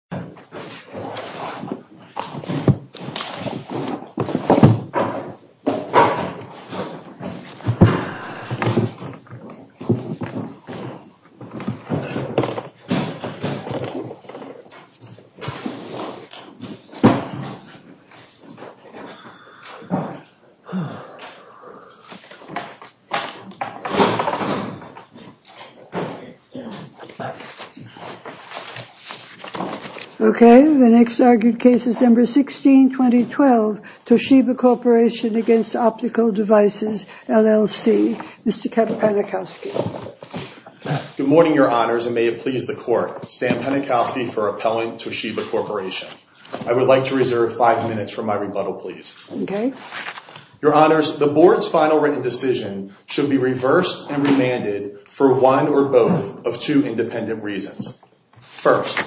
Toshiba Corporation v. Optical Devices, LLC Okay, the next argued case is number 16-2012 Toshiba Corporation v. Optical Devices, LLC Mr. Kevin Penikowski Good morning your honors and may it please the court Stan Penikowski for appellant Toshiba Corporation I would like to reserve five minutes for my rebuttal please Okay Your honors, the board's final written decision should be reversed and remanded for one or both of two independent reasons First,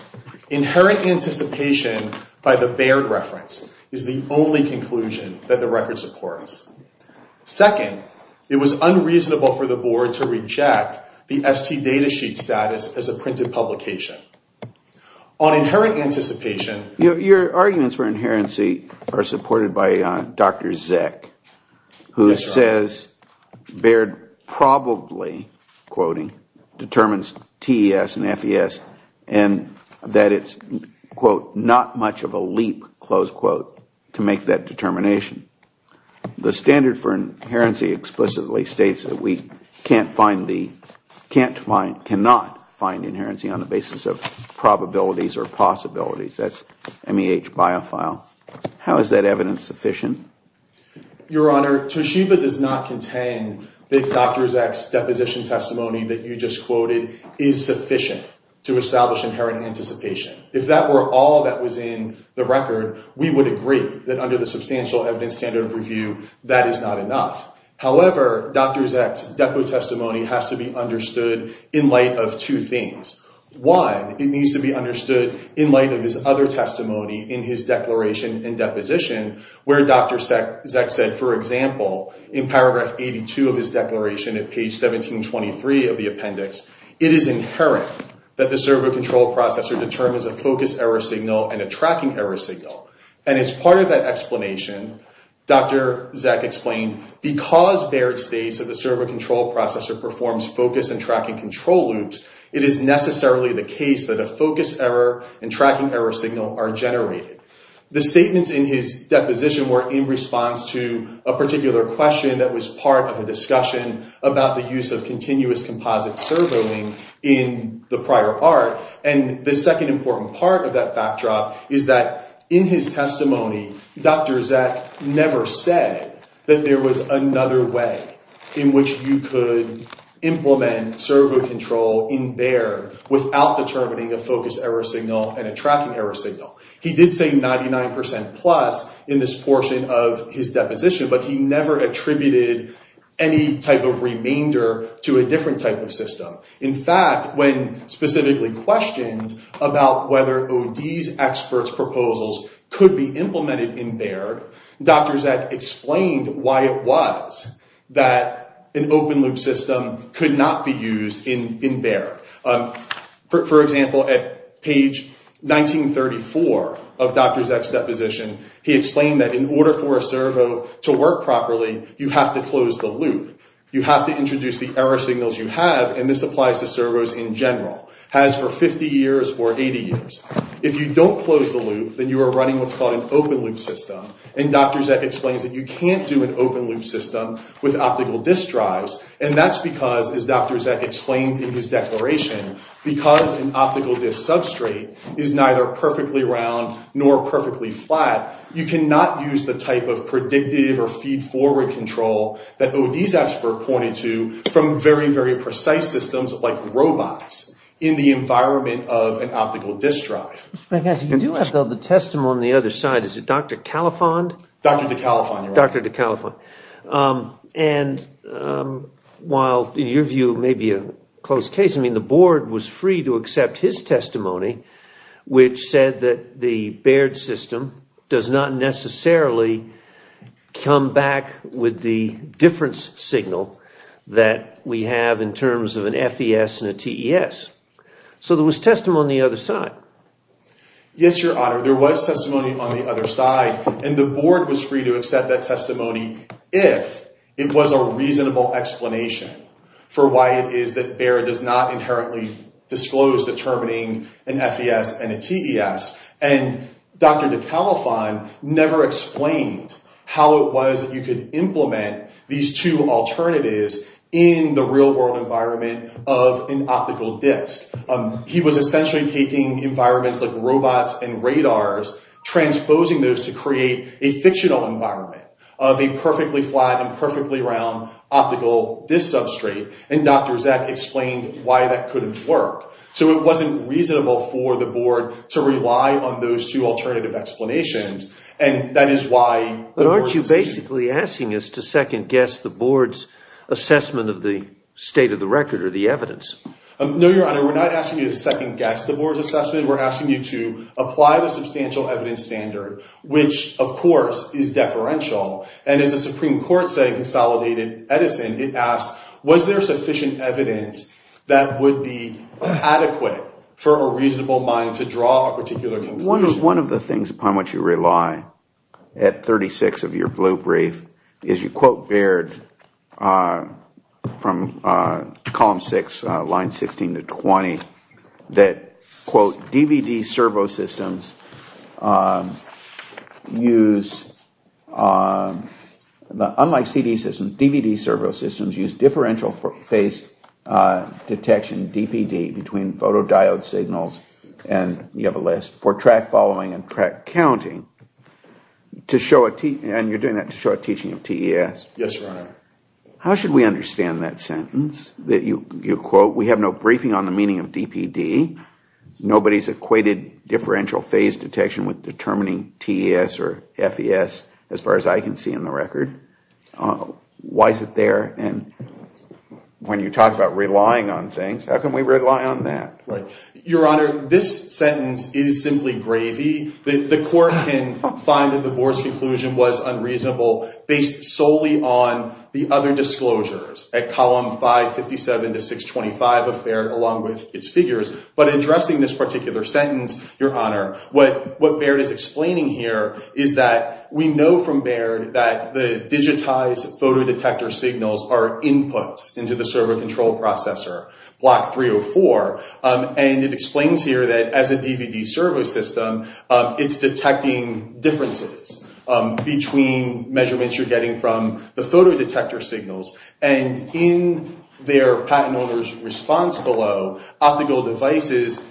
inherent anticipation by the Baird reference is the only conclusion that the record supports Second, it was unreasonable for the board to reject the ST data sheet status as a printed publication On inherent anticipation Your arguments for inherency are supported by Dr. Zeck who says Baird probably, quoting, determines TES and FES and that it's, quote, not much of a leap, close quote, to make that determination The standard for inherency explicitly states that we can't find the on the basis of probabilities or possibilities That's MEH biofile How is that evidence sufficient? Your honor, Toshiba does not contain the Dr. Zeck's deposition testimony that you just quoted is sufficient to establish inherent anticipation If that were all that was in the record, we would agree that under the substantial evidence standard of review that is not enough However, Dr. Zeck's depo testimony has to be understood in light of two things One, it needs to be understood in light of his other testimony in his declaration and deposition where Dr. Zeck said, for example, in paragraph 82 of his declaration at page 1723 of the appendix It is inherent that the server control processor determines a focus error signal and a tracking error signal And as part of that explanation, Dr. Zeck explained because Barrett states that the server control processor performs focus and tracking control loops it is necessarily the case that a focus error and tracking error signal are generated The statements in his deposition were in response to a particular question that was part of a discussion about the use of continuous composite servoing in the prior art And the second important part of that backdrop is that in his testimony Dr. Zeck never said that there was another way in which you could implement servo control in Baird without determining a focus error signal and a tracking error signal He did say 99% plus in this portion of his deposition but he never attributed any type of remainder to a different type of system In fact, when specifically questioned about whether OD's experts' proposals could be implemented in Baird Dr. Zeck explained why it was that an open loop system could not be used in Baird For example, at page 1934 of Dr. Zeck's deposition he explained that in order for a servo to work properly, you have to close the loop You have to introduce the error signals you have, and this applies to servos in general As for 50 years or 80 years If you don't close the loop, then you are running what's called an open loop system And Dr. Zeck explains that you can't do an open loop system with optical disk drives And that's because, as Dr. Zeck explained in his declaration because an optical disk substrate is neither perfectly round nor perfectly flat You cannot use the type of predictive or feed-forward control that OD's expert pointed to from very, very precise systems like robots in the environment of an optical disk drive You do have, though, the testimony on the other side. Is it Dr. Caliphant? Dr. DeCaliphant Dr. DeCaliphant And while, in your view, maybe a close case I mean, the board was free to accept his testimony which said that the Baird system does not necessarily come back with the difference signal that we have in terms of an FES and a TES So there was testimony on the other side Yes, Your Honor. There was testimony on the other side And the board was free to accept that testimony if it was a reasonable explanation for why it is that Baird does not inherently disclose determining an FES and a TES And Dr. DeCaliphant never explained how it was that you could implement these two alternatives in the real-world environment of an optical disk He was essentially taking environments like robots and radars transposing those to create a fictional environment of a perfectly flat and perfectly round optical disk substrate And Dr. Zeck explained why that couldn't work So it wasn't reasonable for the board to rely on those two alternative explanations And that is why... But aren't you basically asking us to second-guess the board's assessment of the state of the record or the evidence? No, Your Honor. We're not asking you to second-guess the board's assessment We're asking you to apply the substantial evidence standard which, of course, is deferential And as the Supreme Court, say, consolidated Edison it asked, was there sufficient evidence that would be adequate for a reasonable mind to draw a particular conclusion? One of the things upon which you rely at 36 of your blue brief is you quote Baird from column 6, line 16 to 20 that, quote, DVD servo systems use... Unlike CD systems, DVD servo systems use differential phase detection, DPD between photodiode signals, and you have a list for track following and track counting and you're doing that to show a teaching of TES Yes, Your Honor How should we understand that sentence that you quote We have no briefing on the meaning of DPD Nobody's equated differential phase detection with determining TES or FES as far as I can see in the record Why is it there? And when you talk about relying on things, how can we rely on that? Your Honor, this sentence is simply gravy The court can find that the board's conclusion was unreasonable based solely on the other disclosures at column 557 to 625 of Baird along with its figures but addressing this particular sentence, Your Honor what Baird is explaining here is that we know from Baird that the digitized photodetector signals are inputs into the servo control processor, block 304 and it explains here that as a DVD servo system it's detecting differences between measurements you're getting from the photodetector signals and in their patent owner's response below optical devices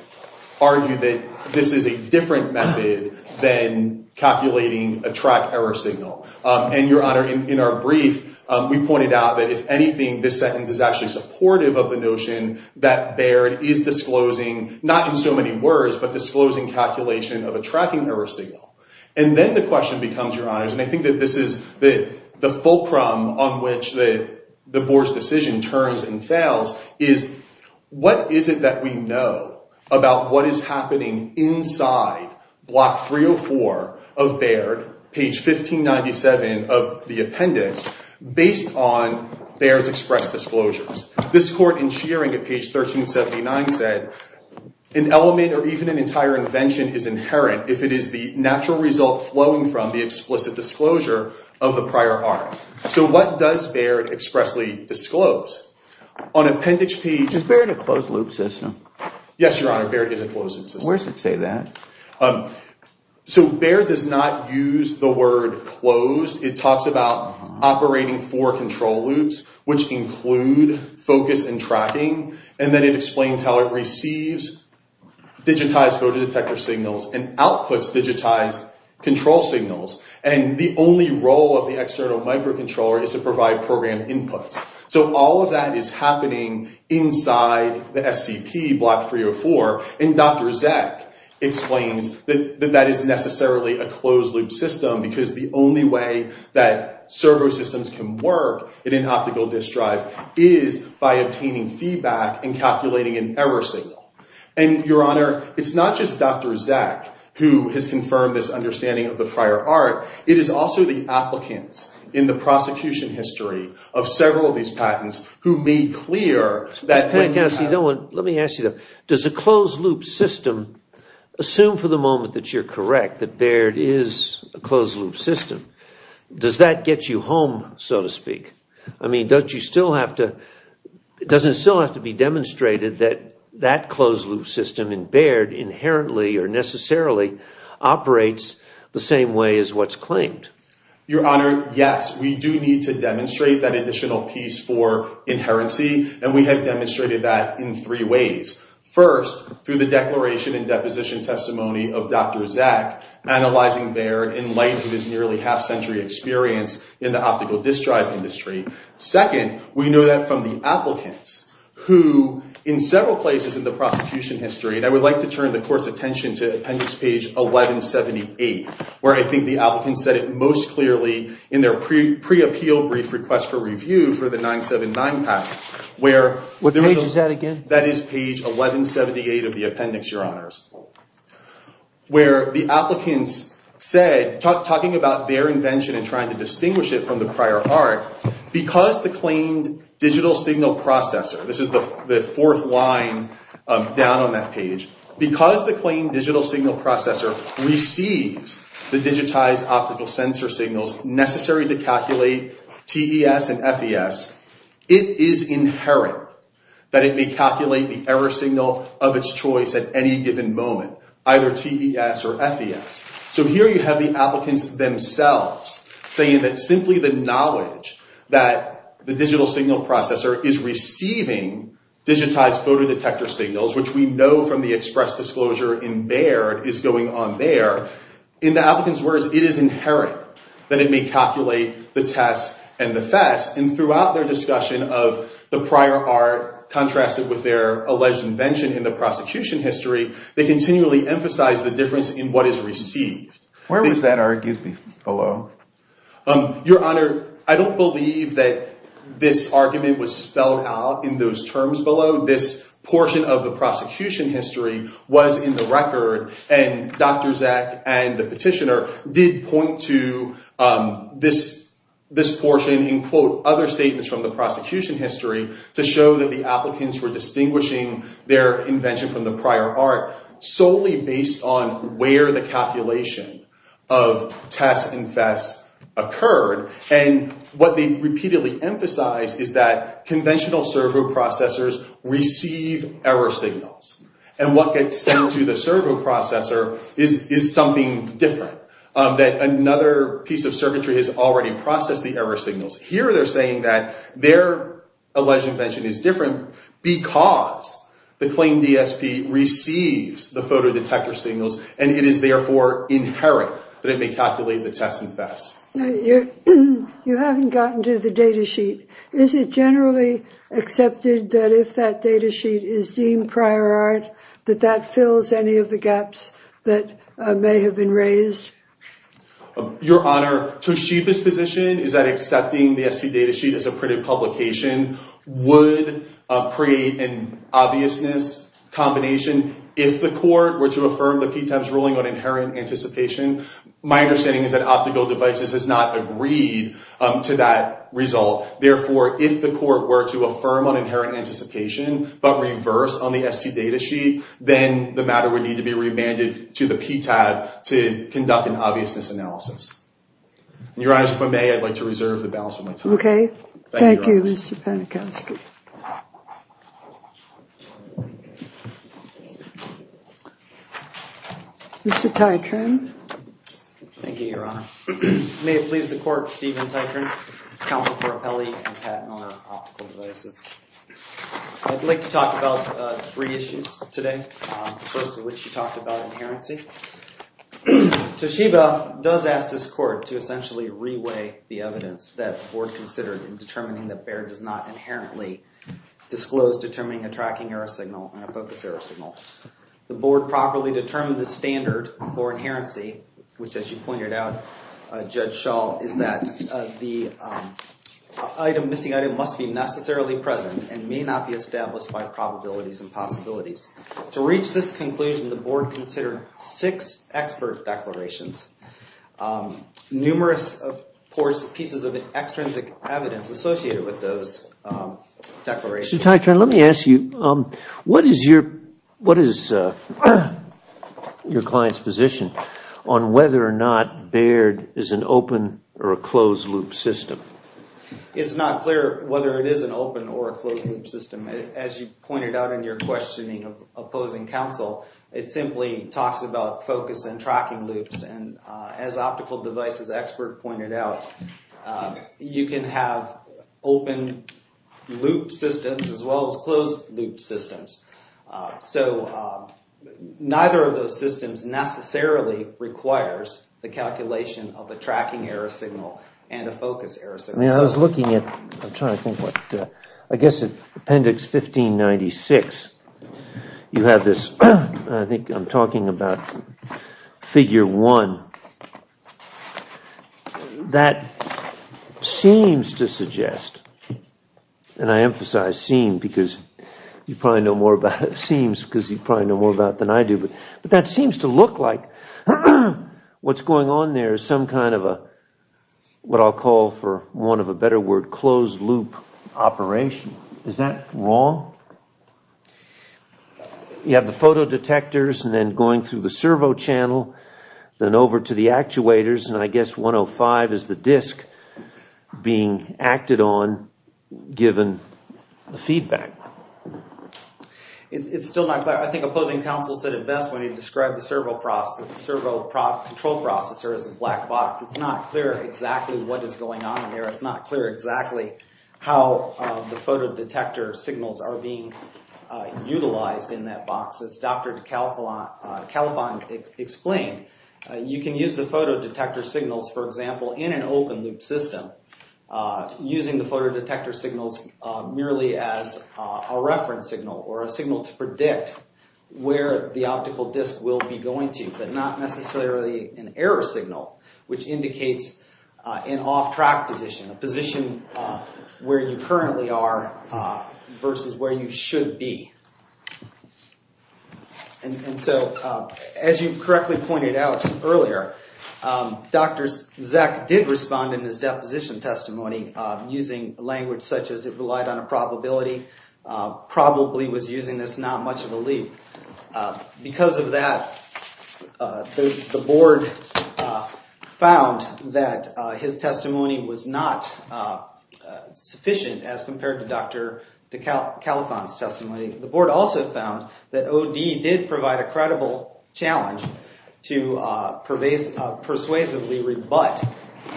argue that this is a different method than calculating a track error signal and Your Honor, in our brief, we pointed out that if anything this sentence is actually supportive of the notion that Baird is disclosing, not in so many words but disclosing calculation of a tracking error signal and then the question becomes, Your Honor and I think that this is the fulcrum on which the board's decision turns and fails is what is it that we know about what is happening inside block 304 of Baird page 1597 of the appendix based on Baird's express disclosures this court in shearing at page 1379 said an element or even an entire invention is inherent if it is the natural result flowing from the explicit disclosure of the prior art so what does Baird expressly disclose? on appendix P is Baird a closed loop system? yes, Your Honor, Baird is a closed loop system where does it say that? so Baird does not use the word closed it talks about operating four control loops which include focus and tracking and then it explains how it receives digitized photodetector signals and outputs digitized control signals and the only role of the external microcontroller is to provide program inputs so all of that is happening inside the SCP block 304 and Dr. Zek explains that that is necessarily a closed loop system because the only way that servo systems can work in an optical disc drive is by obtaining feedback and calculating an error signal and Your Honor, it's not just Dr. Zek who has confirmed this understanding of the prior art it is also the applicants in the prosecution history of several of these patents who made clear that let me ask you though does a closed loop system assume for the moment that you're correct that Baird is a closed loop system does that get you home so to speak I mean, doesn't it still have to be demonstrated that that closed loop system in Baird inherently or necessarily operates the same way as what's claimed Your Honor, yes we do need to demonstrate that additional piece for inherency and we have demonstrated that in three ways first, through the declaration and deposition testimony of Dr. Zek analyzing Baird in light of his nearly half century experience in the optical disc drive industry second, we know that from the applicants who in several places in the prosecution history and I would like to turn the court's attention to appendix page 1178 where I think the applicants said it most clearly in their pre-appeal brief request for review for the 979 patent what page is that again that is page 1178 of the appendix, Your Honors where the applicants said talking about their invention and trying to distinguish it from the prior heart because the claimed digital signal processor this is the fourth line down on that page because the claimed digital signal processor receives the digitized optical sensor signals necessary to calculate TES and FES it is inherent that it may calculate the error signal of its choice at any given moment either TES or FES so here you have the applicants themselves saying that simply the knowledge that the digital signal processor is receiving digitized photo detector signals which we know from the express disclosure in Baird is going on there in the applicant's words, it is inherent that it may calculate the TES and the FES and throughout their discussion of the prior art contrasted with their alleged invention in the prosecution history they continually emphasize the difference in what is received where was that argued below? Your Honor, I don't believe that this argument was spelled out in those terms below this portion of the prosecution history was in the record and Dr. Zak and the petitioner did point to this portion and quote other statements from the prosecution history to show that the applicants were distinguishing their invention from the prior art solely based on where the calculation of TES and FES occurred and what they repeatedly emphasized is that conventional servo processors receive error signals and what gets sent to the servo processor is something different that another piece of circuitry has already processed the error signals here they're saying that their alleged invention is different because the claimed DSP receives the photo detector signals and it is therefore inherent that it may calculate the TES and FES You haven't gotten to the data sheet is it generally accepted that if that data sheet is deemed prior art that that fills any of the gaps that may have been raised? Your Honor, Toshiba's position is that accepting the ST data sheet as a printed publication would create an obviousness combination if the court were to affirm the PTAB's ruling on inherent anticipation my understanding is that Optical Devices has not agreed to that result therefore if the court were to affirm on inherent anticipation but reverse on the ST data sheet then the matter would need to be remanded to the PTAB to conduct an obviousness analysis Your Honor, if I may I'd like to reserve the balance of my time Thank you, Mr. Panikowsky Mr. Titran Thank you, Your Honor May it please the court Steven Titran Counsel for Appellee and Patent Owner Optical Devices I'd like to talk about three issues today the first of which you talked about inherency Toshiba does ask this court to essentially re-weigh the evidence that the board considered in determining that Baird does not inherently disclose determining a tracking error signal and a focus error signal the board properly determined the standard for inherency which as you pointed out Judge Schall is that the item, missing item must be necessarily present and may not be established by probabilities and possibilities to reach this conclusion the board considered six expert declarations numerous pieces of extrinsic evidence associated with those declarations Mr. Titran, let me ask you what is your client's position on whether or not Baird is an open or a closed loop system It's not clear whether it is an open or a closed loop system as you pointed out in your questioning opposing counsel it simply talks about focus and tracking loops and as optical devices expert pointed out you can have open loop systems as well as closed loop systems so neither of those systems necessarily requires the calculation of a tracking error signal and a focus error signal I was looking at I'm trying to think what appendix 1596 you have this I think I'm talking about figure one that seems to suggest and I emphasize seem because you probably know more about it seems because you probably know more about it than I do but that seems to look like what's going on there is some kind of a what I'll call for one of a better word closed loop operation is that wrong? You have the photo detectors and then going through the servo channel then over to the actuators and I guess 105 is the disk being acted on given the feedback It's still not clear I think opposing counsel said it best when he described the servo processor the servo control processor as a black box It's not clear exactly what is going on It's not clear exactly how the photo detector signals are being utilized in that box as Dr. Calafon explained you can use the photo detector signals for example in an open loop system using the photo detector signals merely as a reference signal or a signal to predict where the optical disk will be going to but not necessarily an error signal which indicates an off track position a position where you currently are versus where you should be and so as you correctly pointed out earlier Dr. Zak did respond in his deposition testimony using language such as it relied on a probability probably was using this not much of a leap because of that the board found that his testimony was not sufficient as compared to Dr. Calafon's testimony the board also found that OD did provide a credible challenge to persuasively rebut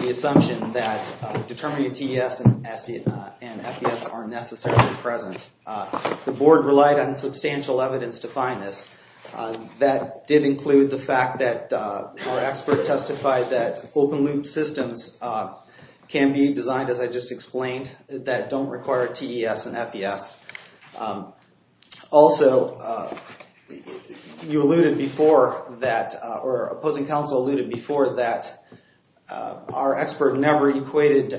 the assumption that determinative TES and FES are necessarily present the board relied on substantial evidence to find this that did include the fact that our expert testified that open loop systems can be designed as I just explained that don't require TES and FES also you alluded before that or opposing counsel alluded before that our expert never equated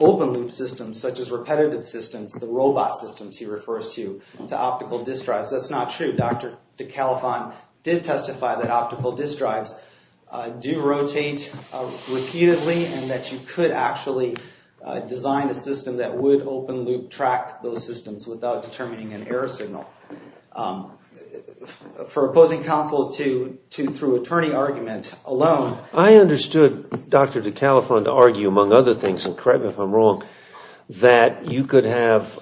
open loop systems such as repetitive systems the robot systems he refers to to optical disk drives that's not true Dr. Calafon did testify that optical disk drives do rotate repeatedly and that you could actually design a system that would open loop track those systems without determining an error signal for opposing counsel to through attorney arguments alone I understood Dr. Calafon to argue among other things and correct me if I'm wrong that you could have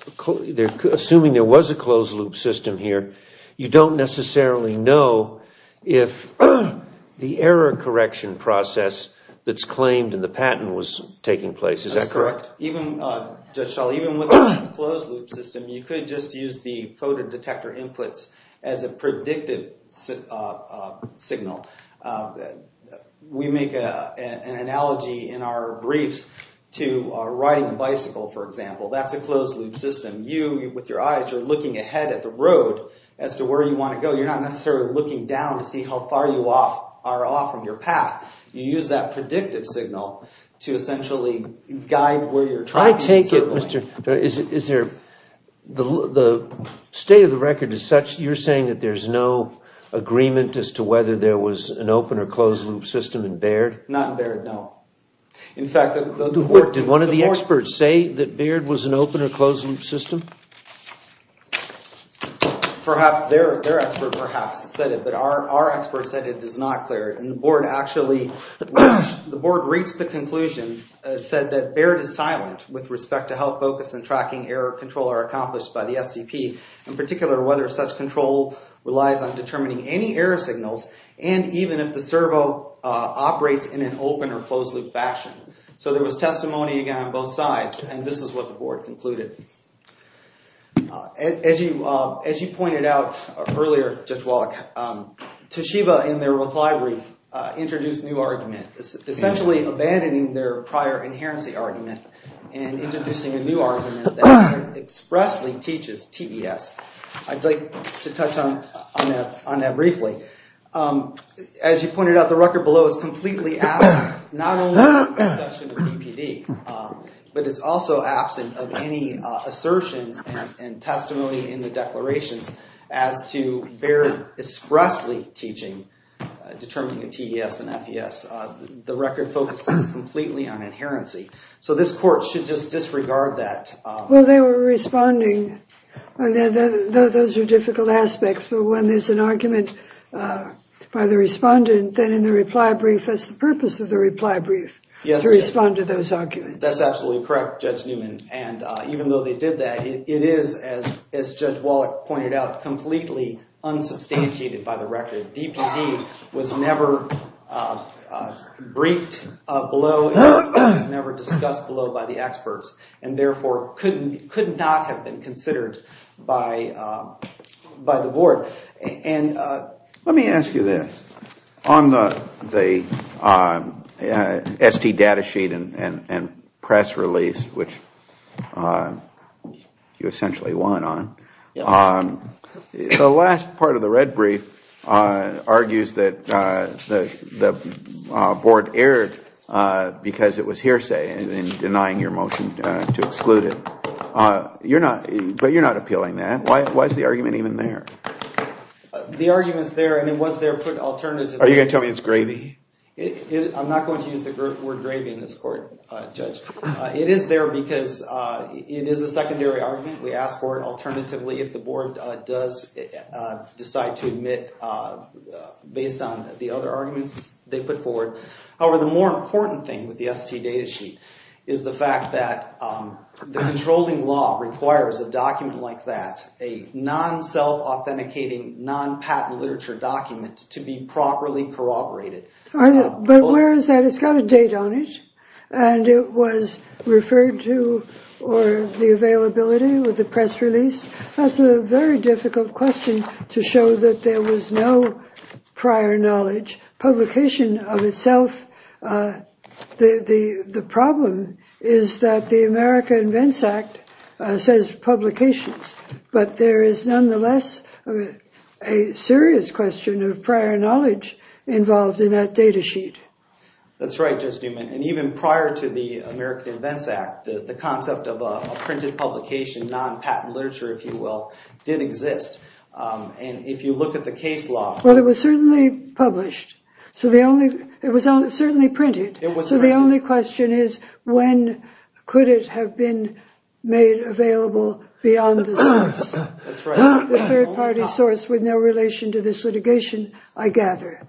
assuming there was a closed loop system here you don't necessarily know if the error correction process that's claimed in the patent was taking place is that correct? That's correct Judge Schall, even with a closed loop system you could just use the photo detector inputs as a predictive signal we make an analogy in our briefs to riding a bicycle for example that's a closed loop system you with your eyes you're looking ahead at the road as to where you want to go you're not necessarily looking down to see how far you are off from your path you use that predictive signal to essentially guide where you're driving I take it Mr. is there the state of the record is such you're saying that there's no agreement as to whether there was an open or closed loop system in Baird? not in Baird, no in fact did one of the experts say that Baird was an open or closed loop system? perhaps their expert perhaps said it but our expert said it is not clear and the board actually the board reached the conclusion said that Baird is silent with respect to how focus and tracking error control are accomplished by the SCP in particular whether such control relies on determining any error signals and even if the servo operates in an open or closed loop fashion so there was testimony again on both sides and this is what the board concluded as you pointed out earlier Judge Wallach Toshiba in their reply brief introduced a new argument essentially abandoning their prior inherency argument and introducing a new argument that expressly teaches TES I'd like to touch on that briefly as you pointed out the record below is completely absent not only from the discussion of DPD but is also absent of any assertion and testimony in the declarations as to Baird expressly teaching determining a TES and FES the record focuses completely on inherency so this court should just disregard that well they were responding those are difficult aspects but when there's an argument by the respondent then in the reply brief that's the purpose of the reply brief to respond to those arguments that's absolutely correct Judge Newman and even though they did that it is as Judge Wallach pointed out completely unsubstantiated by the record DPD was never briefed below it was never discussed below by the experts and therefore could not have been considered by the board and let me ask you this on the ST data sheet and press release which you essentially won on the last part of the red brief argues that the board erred because it was hearsay in denying your motion to exclude it but you're not appealing that why is the argument even there? the argument is there and it was there put alternatively are you going to tell me it's gravy? I'm not going to use the word gravy in this court it is there because it is a secondary argument we ask for it alternatively if the board does decide to admit based on the other arguments they put forward however the more important thing with the ST data sheet is the fact that the controlling law requires a document like that a non-self-authenticating non-patent literature document to be properly corroborated but where is that? it's got a date on it and it was referred to or the availability with the press release that's a very difficult question to show that there was no prior knowledge publication of itself the problem is that the America Invents Act says publications but there is nonetheless a serious question of prior knowledge involved in that data sheet that's right Judge Newman and even prior to the America Invents Act the concept of a printed publication non-patent literature if you will did exist and if you look at the case law well it was certainly published so the only it was certainly printed so the only question is when could it have been made available beyond the source the third party source with no relation to this litigation I gather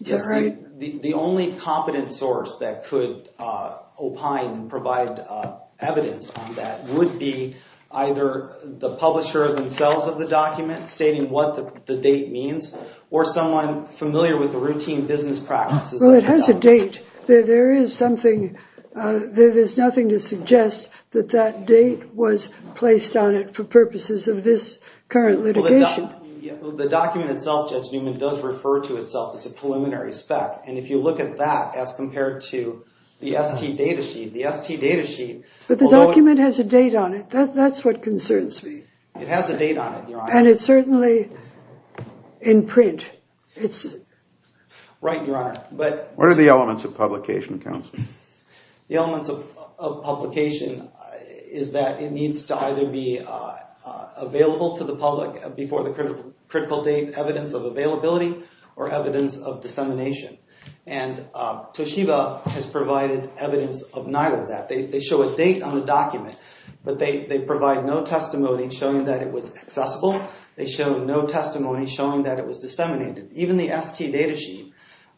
the only competent source that could opine and provide evidence on that would be either the publisher themselves of the document stating what the date means or someone familiar with the routine business practices well it has a date there is something there is nothing to suggest that that date was placed on it for purposes of this current litigation the document itself Judge Newman does refer to itself as a preliminary spec and if you look at that as compared to the ST data sheet the ST data sheet but the document has a date on it that's what concerns me it has a date on it Your Honor and it's certainly in print it's right Your Honor but what are the elements of publication counsel the elements of of publication is that it needs to either be available to the public before the critical critical date evidence of availability or evidence of dissemination and Toshiba has provided evidence of neither of that they show a date on the document but they provide no testimony showing that it was accessible they show no testimony showing that it was disseminated even the ST data sheet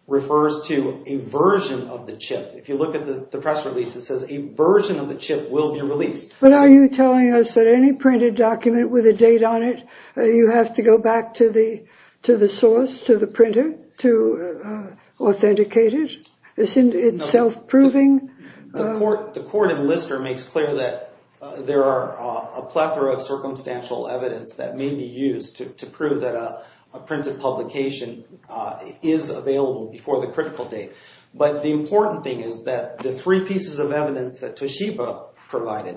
refers to a version of the chip if you look at the press release it says a version of the chip will be released but are you telling us that any printed document with a date on it you have to go back to the to the source to the printer to authenticate it isn't it self-proving the court the court in Lister makes clear that there are a plethora of circumstantial evidence that may be used to prove that a a printed publication is available before the critical date but the important thing is that the three pieces of evidence that Toshiba provided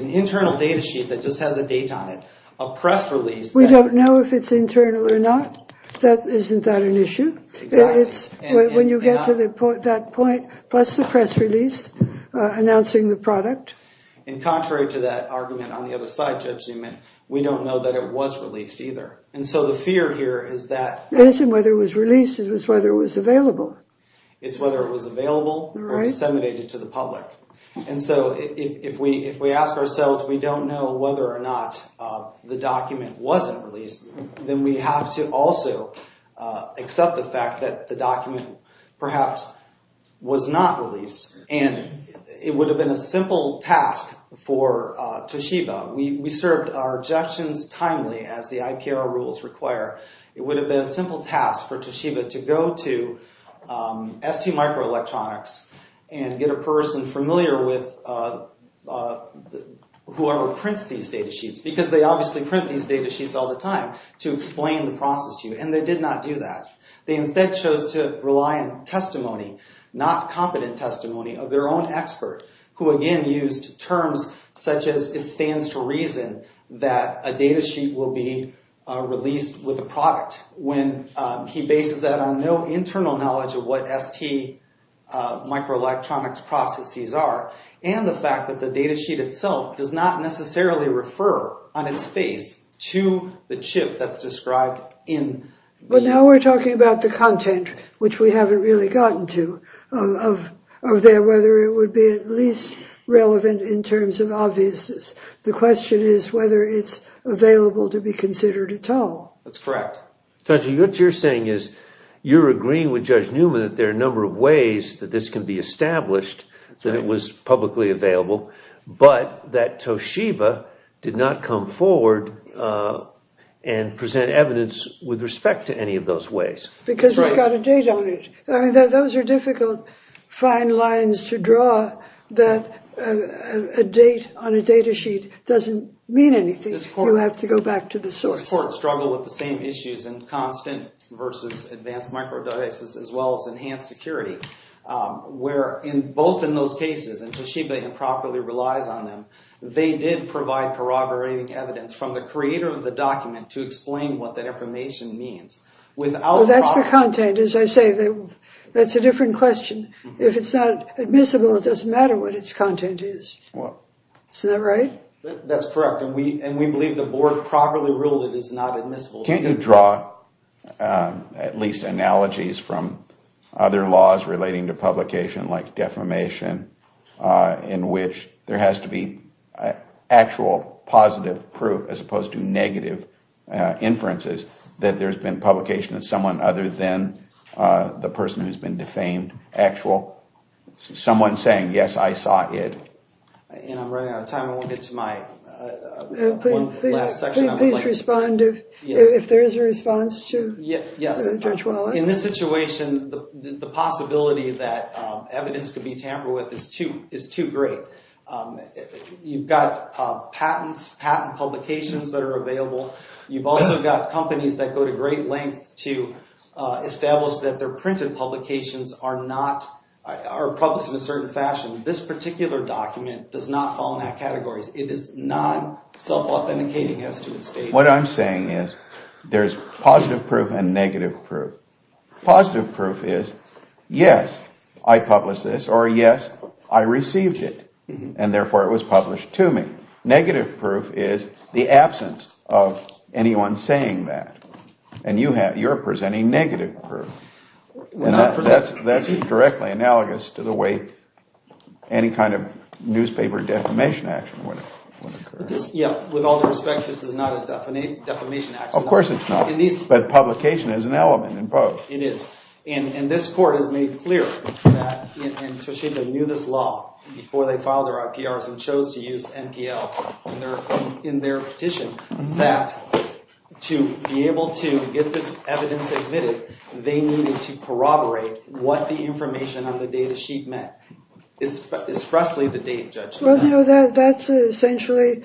an internal data sheet that just has a date on it a press release we don't know if it's internal or not isn't that an issue it's when you get to that point plus the press release announcing the product and contrary to that argument on the other side Judge Newman we don't know that it was released either and so the fear here is that it isn't whether it was released it was whether it was available it's whether it was available or disseminated to the public and so if we ask ourselves we don't know whether or not the document wasn't released then we have to also accept the fact that the document perhaps was not released and it would have been a simple task for Toshiba we served our injections timely as the IPR rules require it would have been a simple task for Toshiba to go to ST Microelectronics and get a person familiar with whoever prints these data sheets because they obviously print these data sheets all the time to explain the process to you and they did not do that they instead chose to rely on testimony not competent testimony of their own expert who again used terms such as it stands to reason that a data sheet will be released with a product when he bases that on no internal knowledge of what ST Microelectronics processes are and the fact that the data sheet itself does not necessarily refer on its face to the chip that's described in the... But now we're talking about the content which we haven't really gotten to of whether it would be at least relevant in terms of obviousness the question is whether it's available to be considered at all That's correct Toshi, what you're saying is you're agreeing with Judge Newman that there are a number of ways that this can be established that it was publicly available but that Toshiba did not come forward and present evidence with respect to any of those ways Because it's got a date on it Those are difficult fine lines to draw that a date on a data sheet doesn't mean anything you have to go back to the source Courts struggle with the same issues in constant versus advanced microdiases as well as enhanced security where both in those cases and Toshiba improperly relies on them they did provide corroborating evidence from the creator of the document to explain what that information means That's the content as I say that's a different question If it's not admissible it doesn't matter what its content is Isn't that right? That's correct and we believe the board properly ruled it is not admissible Can you draw at least analogies from other laws relating to publication like defamation in which there has to be actual positive proof as opposed to negative inferences that there's been publication of someone other than the person who's been defamed actual someone saying yes I saw it I'm running out of time I won't get to my last section Please respond if there's a response to Yes In this situation the possibility that evidence could be tampered with is too great You've got patents patent publications that are available You've also got companies that go to great lengths to establish that their printed publications are not are published in a certain fashion This particular document does not fall in that category It is not self-authenticating as to its date What I'm saying is there's positive proof and negative proof Positive proof is yes I published this or yes I received it and therefore it was published to me Negative proof is the absence of anyone saying that and you're presenting negative proof That's directly analogous to the way any kind of newspaper defamation action would occur With all due respect this is not a defamation action Of course it's not But publication is an element It is And this court has made clear that Toshiba knew this law before they filed their RPRs and chose to use MPL in their petition that to be able to get this evidence admitted they needed to corroborate what the information on the data sheet meant It's expressly the date judgment That's essentially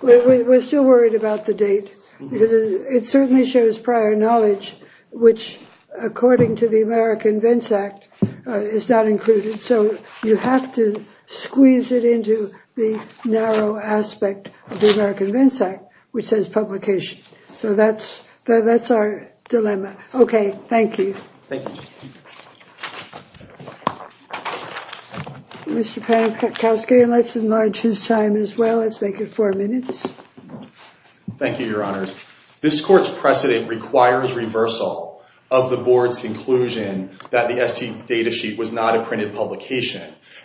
We're still worried about the date It certainly shows prior knowledge which according to the American Vence Act is not included so you have to squeeze it into the narrow aspect of the American Vence Act which says publication So that's our dilemma Okay Thank you Thank you Mr. Pankowski let's enlarge his time as well Let's make it four minutes Thank you Your Honor This court's precedent requires reversal of the board's conclusion that the ST data sheet was not a printed publication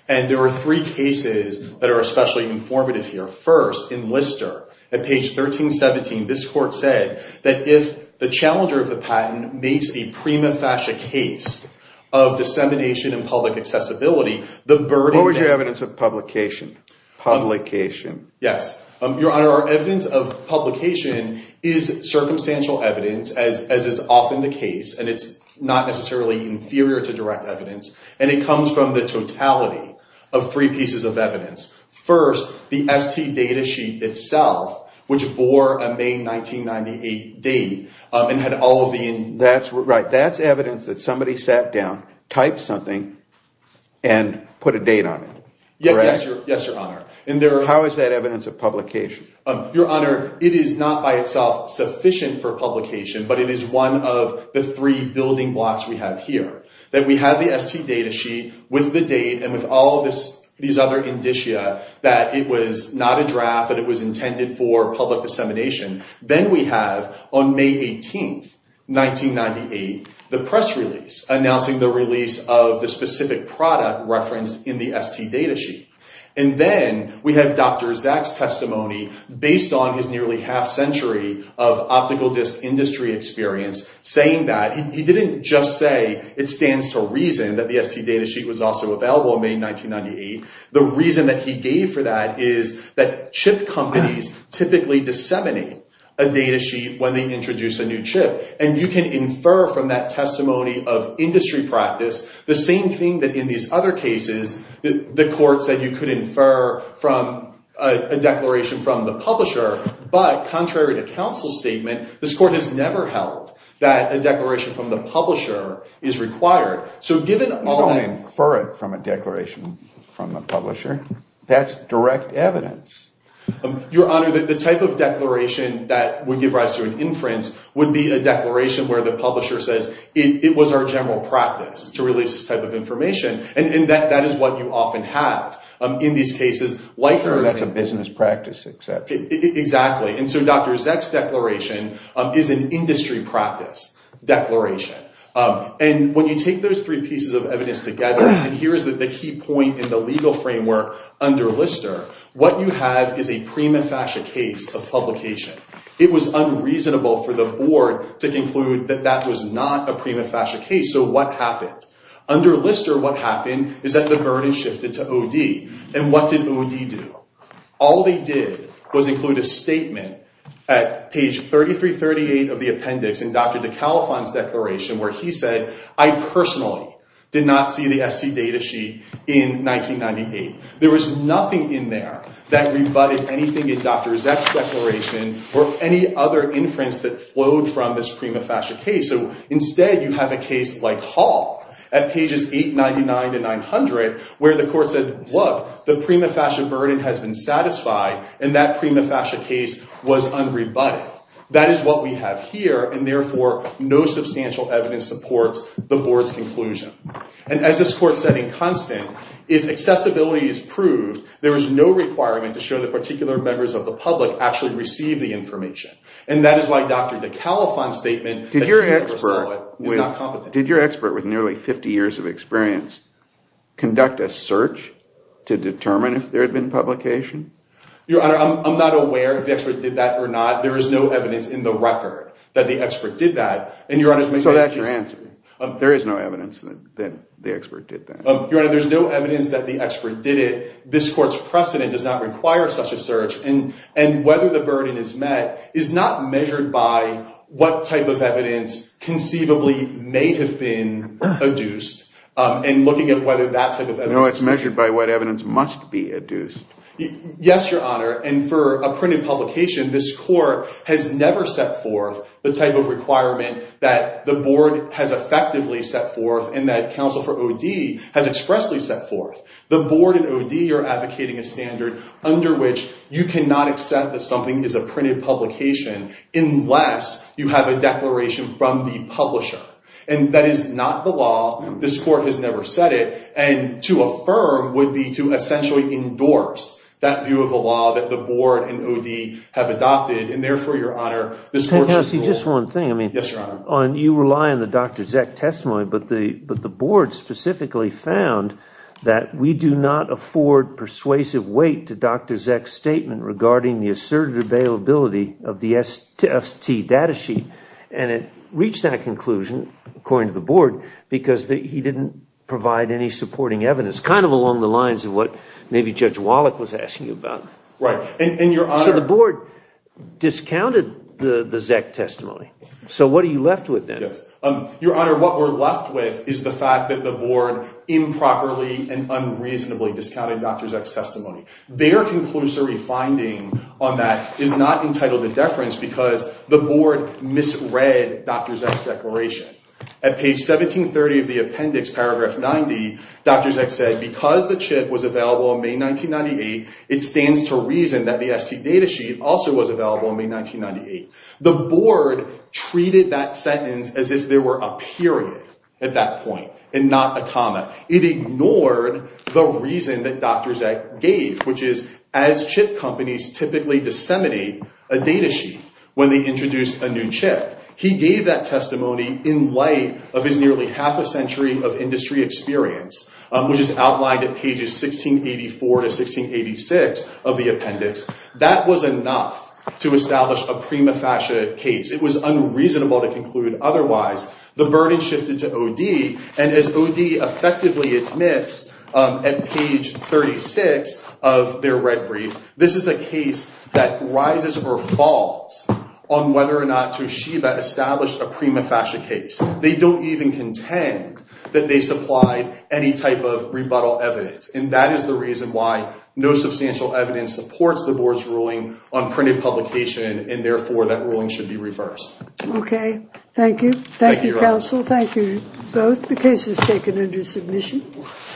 and there are three cases that are especially informative here First in Lister at page 1317 this court said that if the challenger of the patent makes the prima facie case of dissemination and public accessibility What was your evidence of publication? Publication Yes Your Honor our evidence of publication is circumstantial evidence as is often the case and it's not necessarily inferior to direct evidence and it comes from the totality of three pieces of evidence First the ST data sheet itself which bore a May 1998 date and had all of the That's evidence that somebody sat down typed something and put a date on it Yes Your Honor How is that evidence of publication? Your Honor it is not by itself sufficient for publication but it is one of the three building blocks we have here that we have the ST data sheet with the date and with all of these other indicia that it was not a draft that it was intended for public dissemination then we have on May 18th 1998 the press release announcing the release of the specific product referenced in the ST data sheet and then we have Dr. Zack's testimony based on his nearly half century of optical disc industry experience saying that he didn't just say it stands to reason that the ST data sheet was also available in May 1998 the reason that he gave for that is that chip companies typically disseminate a data sheet when they release a declaration from the publisher but contrary to counsel's statement this court has never held that a declaration from the publisher is required so given all that I don't infer it from a declaration from the publisher that's direct evidence your honor the type of declaration that would give rise to an inference would be a declaration where the publisher says it was our general practice to release this type of information and that is what you often have in these cases that's a business practice exception exactly so Dr. Zack's declaration is an industry practice declaration and when you take those three pieces of evidence together and here is the key point in the legal framework under Lister what you have is a prima facie case of publication it was unreasonable for the board to conclude that that was not a prima facie case so what happened? Under Lister what happened is that the burden shifted to OD and what did OD do? All they did was include a statement at page 3338 of the appendix in Dr. DeCalifan's declaration where he said I personally did not see the ST data sheet in 1998 there was not a case like Hall at pages 899-900 where the court said look the prima facie burden has been satisfied and that prima facie case was unrebutted that is what we have here and therefore no substantial evidence supports the board's conclusion and as stated by Dr. DeCalifan did your expert with nearly 50 years of experience conduct a search to determine if there had been publication? Your honor I'm not aware if the expert did that or not there is no evidence in the record that the expert did that. Your honor there is no evidence that the expert did that. Your honor there's no evidence that the expert did it this court's precedent does not require such a search and whether the burden is met is not measured by what type of evidence conceivably may have been adduced and looking at whether that type of evidence was measured by what evidence must be adduced. Yes your honor and for a printed publication this court has never set forth the type of requirement that the board has effectively set forth and that counsel for OD has expressly set forth. The board and OD are advocating a standard under which you cannot accept that something is a printed publication unless you have a declaration from the publisher and that is not the law. This court has never set it and to affirm would be to essentially endorse that view of the law that the board and OD have adopted and therefore your honor this court should rule. You rely on the Dr. Zeck testimony but the board specifically found that we do not afford persuasive weight to Dr. Zeck's statement regarding the assertive availability of the ST data sheet and it reached that conclusion according to the board because he didn't provide any supporting evidence kind of along the lines of what maybe Judge Wallach was asking about. So the board discounted the Zeck testimony so what are you left with then? Your honor what we're left with is the fact that the board improperly and unreasonably discounted Dr. Zeck's testimony. Their conclusory finding on that is not entitled to deference because the board misread Dr. Zeck's declaration. At page 1730 of the appendix paragraph 90 Dr. Zeck said because the chip was available in May 1998 it stands to reason that the ST data sheet also was available in May 1998. The board treated that sentence as if there were a period at that point and not a comma. It ignored the reason that Dr. Zeck gave which is as chip companies typically disseminate a data sheet when they introduce a new chip. He gave that testimony in light of his nearly half a century of industry experience which is outlined at pages 1684 to 1686 of the appendix. That was enough to establish a prima facie case. It was unreasonable to conclude otherwise. The burden shifted to O.D. and as O.D. effectively admits at page 36 of their red brief this is a case that rises or falls on whether or not Toshiba established a prima facie case. They don't even contend that they supplied any type of rebuttal evidence and that is the reason why no substantial evidence supports the board's ruling on printed publication and therefore that ruling should be reversed. Okay. Thank you. Thank you, counsel. Thank you both. The case is taken